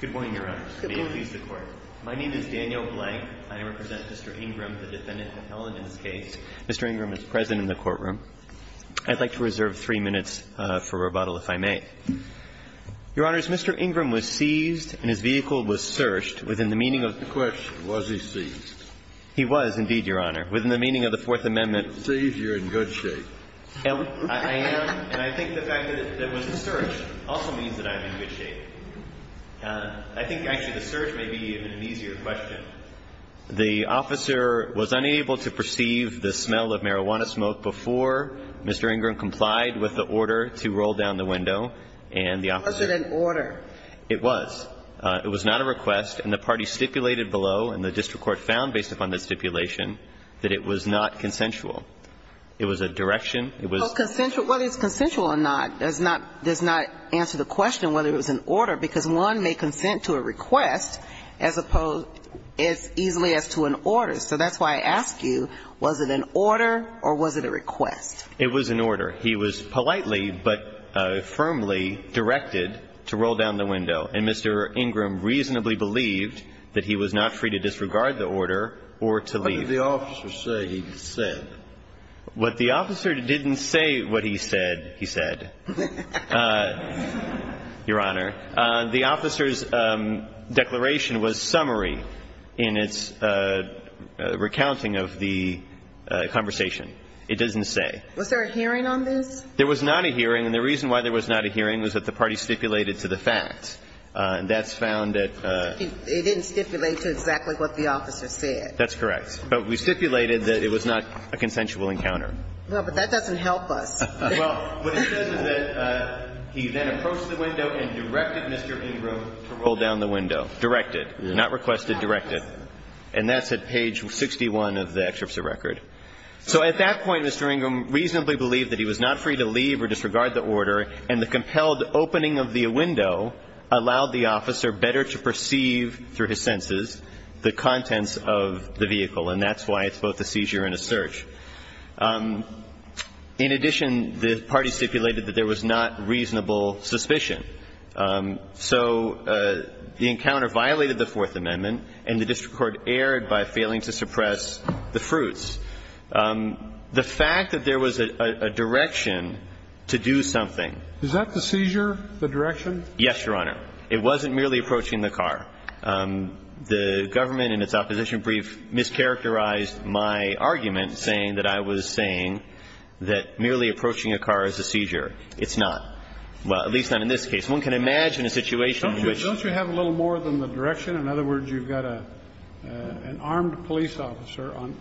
Good morning, Your Honors. May it please the Court. My name is Daniel Blank, and I represent Mr. Ingram, the defendant, in this case. Mr. Ingram is present in the courtroom. I'd like to reserve three minutes for rebuttal, if I may. Your Honors, Mr. Ingram was seized and his vehicle was searched within the meaning of the Fourth Amendment. The question, was he seized? He was, indeed, Your Honor, within the meaning of the Fourth Amendment. If you're seized, you're in good shape. I am, and I think the fact that it was searched also means that I'm in good shape. I think, actually, the search may be an easier question. The officer was unable to perceive the smell of marijuana smoke before Mr. Ingram complied with the order to roll down the window, and the officer ---- Was it an order? It was. It was not a request, and the party stipulated below, and the district court found based upon the stipulation, that it was not consensual. It was a direction. It was ---- Well, consensual, whether it's consensual or not does not answer the question of whether it was an order, because one may consent to a request as opposed as easily as to an order. So that's why I ask you, was it an order or was it a request? It was an order. He was politely but firmly directed to roll down the window, and Mr. Ingram reasonably believed that he was not free to disregard the order or to leave. What did the officer say he said? What the officer didn't say what he said, he said. Your Honor, the officer's declaration was summary in its recounting of the conversation. It doesn't say. Was there a hearing on this? There was not a hearing, and the reason why there was not a hearing was that the party stipulated to the facts. And that's found at ---- It didn't stipulate to exactly what the officer said. That's correct. But we stipulated that it was not a consensual encounter. Well, but that doesn't help us. Well, what it says is that he then approached the window and directed Mr. Ingram to roll down the window, directed, not requested, directed. And that's at page 61 of the excerpt of the record. So at that point, Mr. Ingram reasonably believed that he was not free to leave or disregard the order, and the compelled opening of the window allowed the officer better to perceive through his senses the contents of the vehicle. And that's why it's both a seizure and a search. In addition, the party stipulated that there was not reasonable suspicion. So the encounter violated the Fourth Amendment, and the district court erred by failing to suppress the fruits. The fact that there was a direction to do something ---- Is that the seizure, the direction? Yes, Your Honor. It wasn't merely approaching the car. I'm not saying that I was saying that merely approaching a car is a seizure. It's not, well, at least not in this case. One can imagine a situation which ---- Don't you have a little more than the direction? In other words, you've got an armed police officer on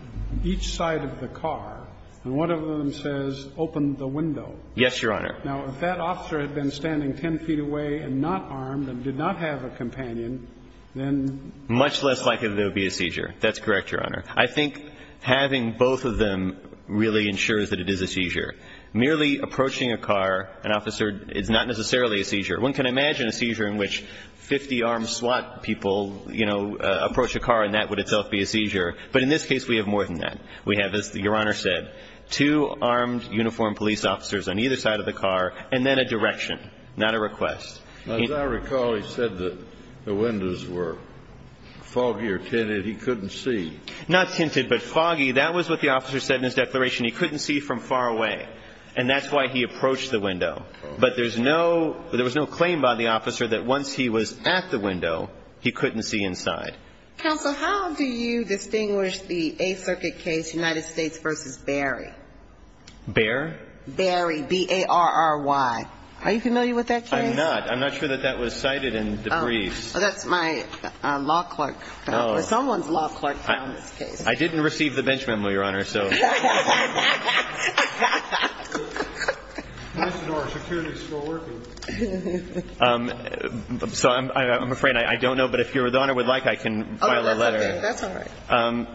each side of the car, and one of them says, open the window. Yes, Your Honor. Now, if that officer had been standing 10 feet away and not armed and did not have a companion, then ---- Much less likely there would be a seizure. That's correct, Your Honor. I think having both of them really ensures that it is a seizure. Merely approaching a car, an officer ---- it's not necessarily a seizure. One can imagine a seizure in which 50 armed SWAT people, you know, approach a car, and that would itself be a seizure. But in this case, we have more than that. We have, as Your Honor said, two armed uniformed police officers on either side of the car, and then a direction, not a request. As I recall, he said that the windows were foggy or tinted. He couldn't see. Not tinted, but foggy. That was what the officer said in his declaration. He couldn't see from far away. And that's why he approached the window. But there's no ---- there was no claim by the officer that once he was at the window, he couldn't see inside. Counsel, how do you distinguish the Eighth Circuit case, United States v. Berry? Berry? Berry, B-A-R-R-Y. Are you familiar with that case? I'm not. I'm not sure that that was cited in the briefs. That's my law clerk. Someone's law clerk found this case. I didn't receive the bench memo, Your Honor, so. So I'm afraid I don't know. But if Your Honor would like, I can file a letter. That's all right.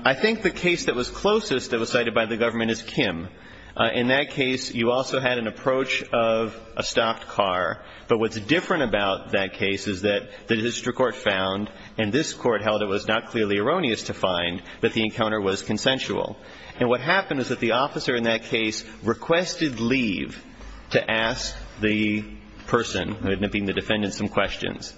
I think the case that was closest that was cited by the government is Kim. In that case, you also had an approach of a stopped car. But what's different about that case is that the district court found, and this court held it was not clearly erroneous to find, that the encounter was consensual. And what happened is that the officer in that case requested leave to ask the person, being the defendant, some questions.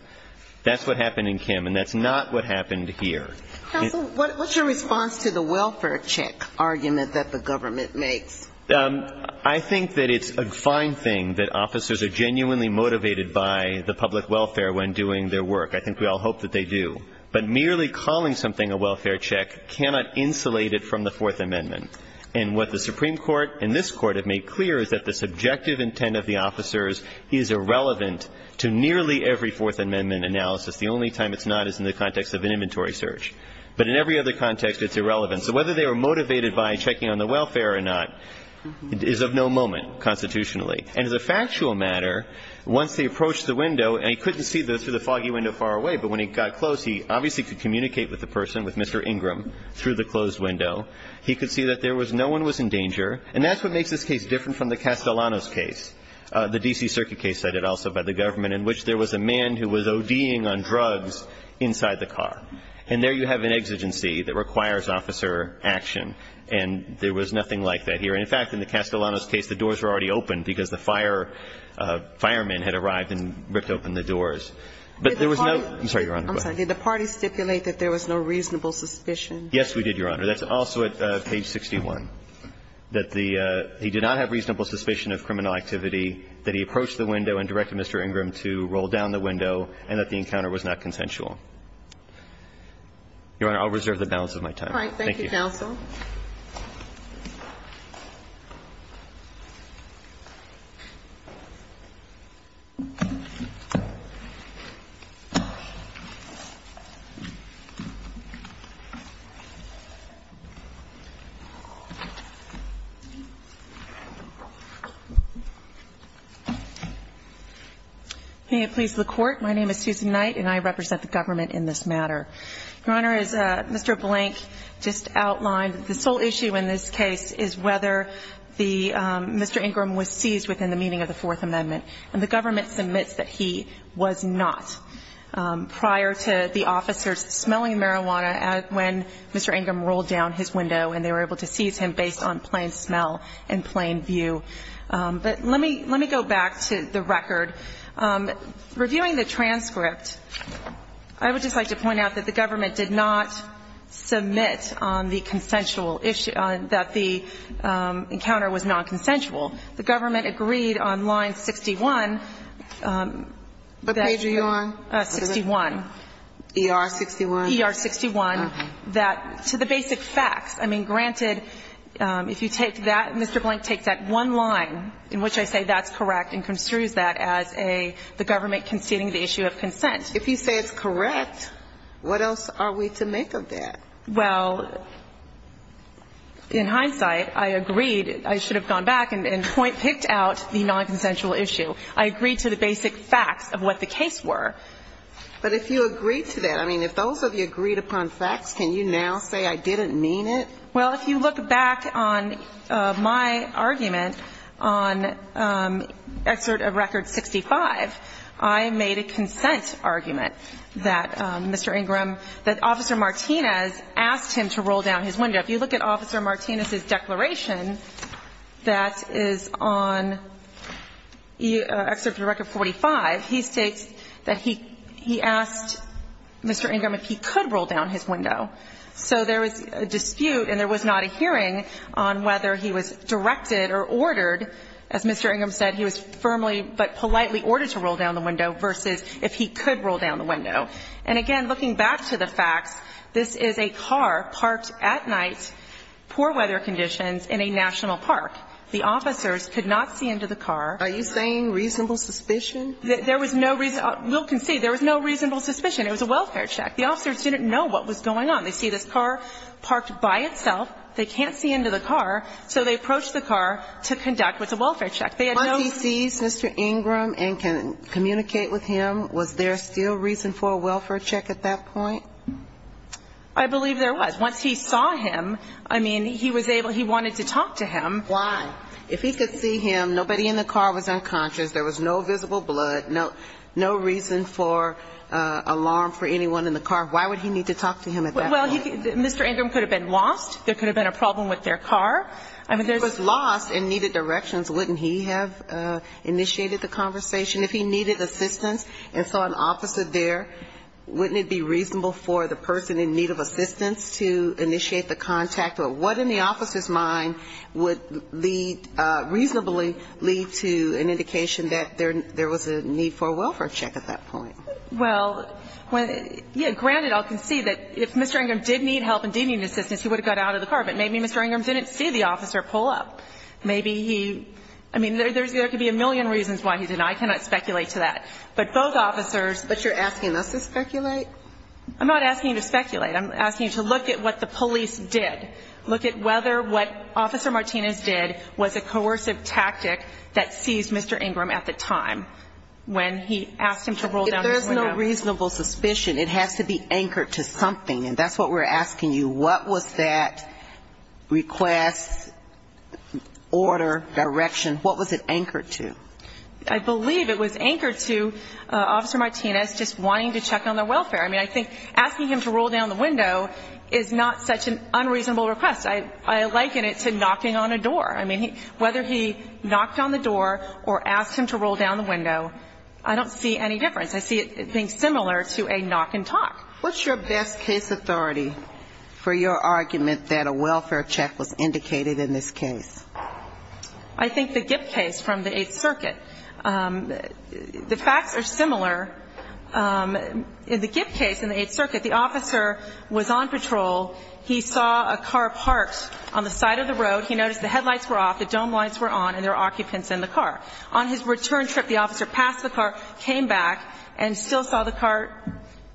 That's what happened in Kim, and that's not what happened here. Counsel, what's your response to the welfare check argument that the government makes? I think that it's a fine thing that officers are genuinely motivated by the public welfare when doing their work. I think we all hope that they do. But merely calling something a welfare check cannot insulate it from the Fourth Amendment. And what the Supreme Court and this Court have made clear is that the subjective intent of the officers is irrelevant to nearly every Fourth Amendment analysis. The only time it's not is in the context of an inventory search. But in every other context, it's irrelevant. So whether they were motivated by checking on the welfare or not is of no moment constitutionally. And as a factual matter, once they approached the window, and he couldn't see through the foggy window far away, but when he got close, he obviously could communicate with the person, with Mr. Ingram, through the closed window. He could see that no one was in danger. And that's what makes this case different from the Castellanos case, the D.C. Circuit case cited also by the government, in which there was a man who was O.D.ing on drugs inside the car. And there you have an exigency that requires officer action. And there was nothing like that here. And in fact, in the Castellanos case, the doors were already open because the fireman had arrived and ripped open the doors. But there was no ---- I'm sorry, Your Honor. I'm sorry. Did the parties stipulate that there was no reasonable suspicion? Yes, we did, Your Honor. That's also at page 61, that the ---- he did not have reasonable suspicion of criminal activity, that he approached the window and directed Mr. Ingram to roll down the window, and that the encounter was not consensual. Your Honor, I'll reserve the balance of my time. Thank you. All right. Thank you, counsel. May it please the Court, my name is Susan Knight, and I represent the government in this matter. Your Honor, as Mr. Blank just outlined, the sole issue in this case is whether the Mr. Ingram was seized within the meaning of the Fourth Amendment. And the government submits that he was not prior to the officers smelling marijuana when Mr. Ingram rolled down his window, and they were able to seize him based on plain smell and plain view. But let me go back to the record. Reviewing the transcript, I would just like to point out that the government did not submit on the consensual issue, that the encounter was nonconsensual. The government agreed on line 61 that you ---- What page are you on? 61. ER 61? ER 61, that to the basic facts. I mean, granted, if you take that, Mr. Blank takes that one line in which I say that's a nonconsensual issue, and he agrees that as a government conceding the issue of consent. If you say it's correct, what else are we to make of that? Well, in hindsight, I agreed, I should have gone back and picked out the nonconsensual issue. I agreed to the basic facts of what the case were. But if you agreed to that, I mean, if those of you agreed upon facts, can you now say I didn't mean it? Well, if you look back on my argument on Excerpt of Record 65, I made a consent argument that Mr. Ingram ---- that Officer Martinez asked him to roll down his window. If you look at Officer Martinez's declaration that is on Excerpt of Record 45, he states that he asked Mr. Ingram if he could roll down his window. So there was a dispute and there was not a hearing on whether he was directed or ordered. As Mr. Ingram said, he was firmly but politely ordered to roll down the window, versus if he could roll down the window. And again, looking back to the facts, this is a car parked at night, poor weather conditions, in a national park. The officers could not see into the car. Are you saying reasonable suspicion? There was no reason ---- we'll concede there was no reasonable suspicion. It was a welfare check. The officers didn't know what was going on. They see this car parked by itself, they can't see into the car, so they approach the car to conduct what's a welfare check. Once he sees Mr. Ingram and can communicate with him, was there still reason for a welfare check at that point? I believe there was. Once he saw him, I mean, he was able ---- he wanted to talk to him. Why? If he could see him, nobody in the car was unconscious, there was no visible blood, no reason for alarm for anyone in the car, why would he need to talk to him at that point? Well, he could ---- Mr. Ingram could have been lost. There could have been a problem with their car. I mean, there's ---- If he was lost and needed directions, wouldn't he have initiated the conversation? If he needed assistance and saw an officer there, wouldn't it be reasonable for the person in need of assistance to initiate the contact? Or what in the officer's mind would lead ---- reasonably lead to an indication that there was a need for a welfare check at that point? Well, when ---- yeah, granted, I'll concede that if Mr. Ingram did need help and did need assistance, he would have got out of the car. But maybe Mr. Ingram didn't see the officer pull up. Maybe he ---- I mean, there's ---- there could be a million reasons why he didn't. I cannot speculate to that. But both officers ---- But you're asking us to speculate? I'm not asking you to speculate. I'm asking you to look at what the police did, look at whether what Officer Martinez did was a coercive tactic that seized Mr. Ingram at the time when he asked him to roll down his window. If there's no reasonable suspicion, it has to be anchored to something. And that's what we're asking you. What was that request, order, direction, what was it anchored to? I believe it was anchored to Officer Martinez just wanting to check on their welfare. I mean, I think asking him to roll down the window is not such an unreasonable request. I liken it to knocking on a door. I mean, whether he knocked on the door or asked him to roll down the window, I don't see any difference. I see it being similar to a knock and talk. What's your best case authority for your argument that a welfare check was indicated in this case? I think the Gipp case from the Eighth Circuit. The facts are similar. In the Gipp case in the Eighth Circuit, the officer was on patrol. He saw a car parked on the side of the road. He noticed the headlights were off, the dome lights were on, and there were occupants in the car. On his return trip, the officer passed the car, came back, and still saw the car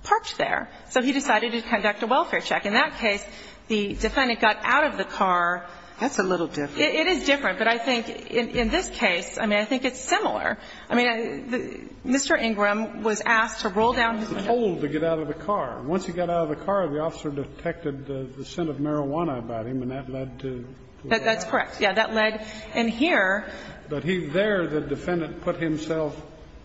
parked there. So he decided to conduct a welfare check. In that case, the defendant got out of the car. That's a little different. It is different. But I think in this case, I mean, I think it's similar. I mean, Mr. Ingram was asked to roll down his window. He was told to get out of the car. Once he got out of the car, the officer detected the scent of marijuana about him, and that led to a robbery. That's correct. Yes. That led in here. But he there, the defendant put himself,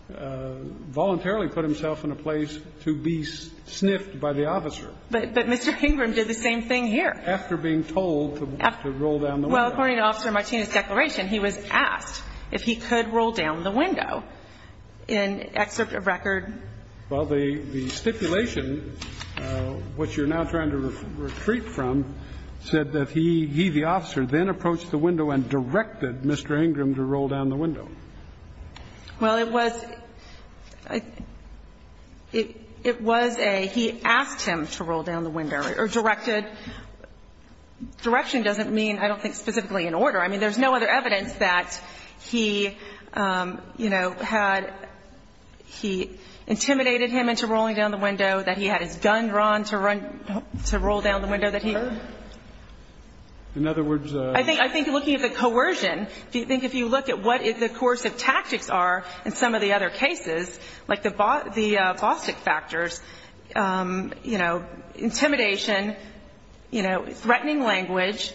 voluntarily put himself in a place to be sniffed by the officer. But Mr. Ingram did the same thing here. After being told to roll down the window. Well, according to Officer Martinez's declaration, he was asked if he could roll down the window. In excerpt of record. Well, the stipulation, which you're now trying to retreat from, said that he, the officer, then approached the window and directed Mr. Ingram to roll down the window. Well, it was a he asked him to roll down the window, or directed. Direction doesn't mean, I don't think, specifically an order. I mean, there's no other evidence that he, you know, had he intimidated him into rolling down the window, that he had his gun drawn to run to roll down the window, that he. In other words, I think looking at the coercion, do you think if you look at what is the course of tactics are in some of the other cases, like the the plastic factors, you know, intimidation, you know, threatening language,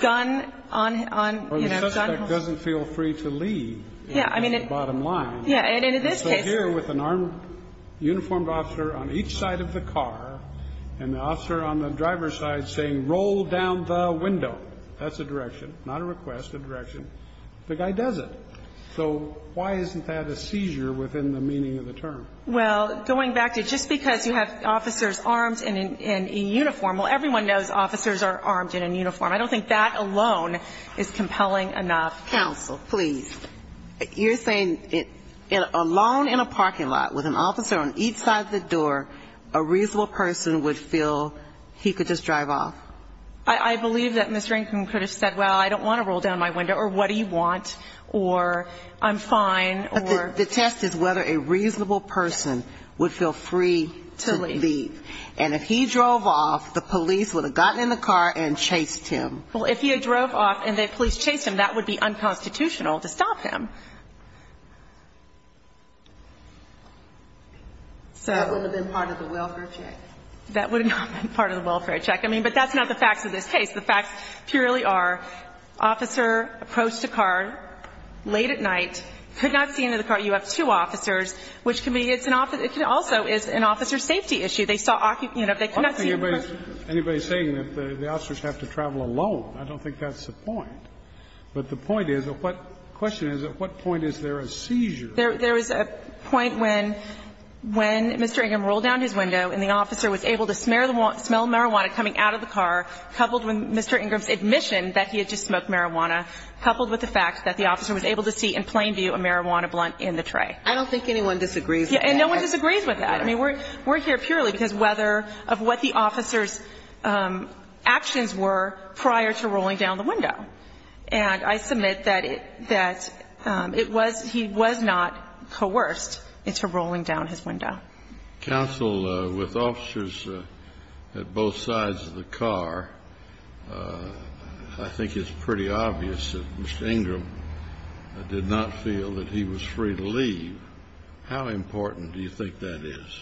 gun on, on, you know. Or the suspect doesn't feel free to leave. Yeah, I mean. At the bottom line. Yeah, and in this case. So here with an armed, uniformed officer on each side of the car, and the officer on the driver's side saying, roll down the window. That's a direction, not a request, a direction. The guy does it. So why isn't that a seizure within the meaning of the term? Well, going back to just because you have officers armed and in uniform, well, everyone knows officers are armed in a uniform. I don't think that alone is compelling enough. Counsel, please, you're saying it alone in a parking lot with an officer on each side of the door, a reasonable person would feel he could just drive off. I believe that Mr. Ingram could have said, well, I don't want to roll down my window. Or what do you want? Or I'm fine. The test is whether a reasonable person would feel free to leave. And if he drove off, the police would have gotten in the car and chased him. Well, if he had drove off and the police chased him, that would be unconstitutional to stop him. So that would have been part of the welfare check, that would have been part of the welfare check. I mean, but that's not the facts of this case. The facts purely are officer approached a car late at night, could not see into the car. You have two officers, which can be an officer also is an officer's safety issue. They saw occupant, you know, they could not see in the car. Anybody is saying that the officers have to travel alone. I don't think that's the point. But the point is, what question is, at what point is there a seizure? There is a point when Mr. Ingram rolled down his window and the officer was able to smell marijuana coming out of the car, coupled with Mr. Ingram's admission that he had just smoked marijuana, coupled with the fact that the officer was able to see in plain view a marijuana blunt in the tray. I don't think anyone disagrees. And no one disagrees with that. I mean, we're here purely because whether of what the officer's actions were prior to rolling down the window. And I submit that it that it was he was not coerced into rolling down his window. Counsel, with officers at both sides of the car, I think it's pretty obvious that Mr. Ingram did not feel that he was free to leave. How important do you think that is?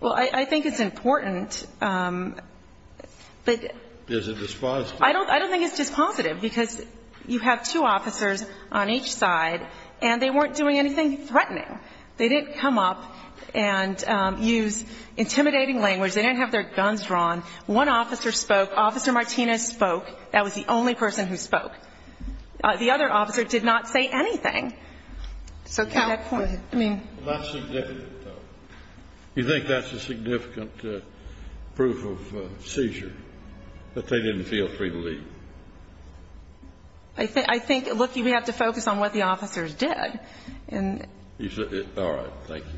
Well, I think it's important. But is it dispositive? I don't think it's dispositive, because you have two officers on each side, and they weren't doing anything threatening. They didn't come up and use intimidating language. They didn't have their guns drawn. One officer spoke. Officer Martinez spoke. That was the only person who spoke. The other officer did not say anything. So can that point? I mean. That's significant, though. You think that's a significant proof of seizure, that they didn't feel free to leave? I think, look, you have to focus on what the officers did. All right. Thank you.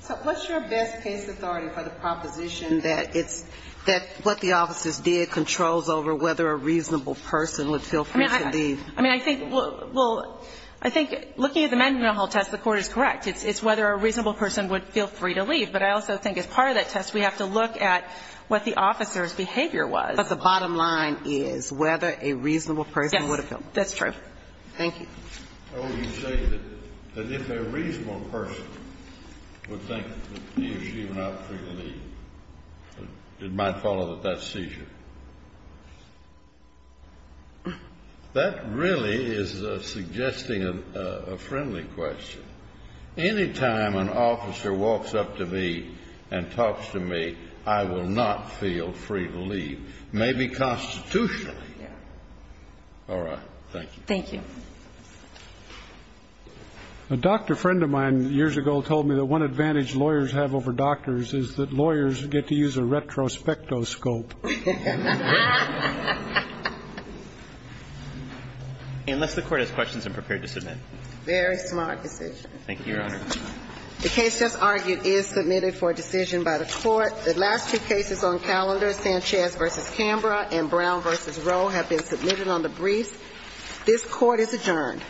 So what's your best case authority for the proposition that it's that what the officers did controls over whether a reasonable person would feel free to leave? I mean, I think, well, I think looking at the Mandelbrot-Hull test, the Court is correct. It's whether a reasonable person would feel free to leave. But I also think as part of that test, we have to look at what the officer's behavior was. But the bottom line is whether a reasonable person would have felt free to leave. That's true. Thank you. Oh, you say that if a reasonable person would think that he or she would not feel free to leave, it might follow that that's seizure. That really is suggesting a friendly question. Any time an officer walks up to me and talks to me, I will not feel free to leave, maybe constitutionally. All right. Thank you. Thank you. A doctor friend of mine years ago told me that one advantage lawyers have over doctors is that lawyers get to use a retrospectoscope. Unless the Court has questions and prepared to submit. Very smart decision. Thank you, Your Honor. The case just argued is submitted for decision by the Court. The last two cases on calendar, Sanchez v. Canberra and Brown v. Rowe, have been submitted on the briefs. This Court is adjourned.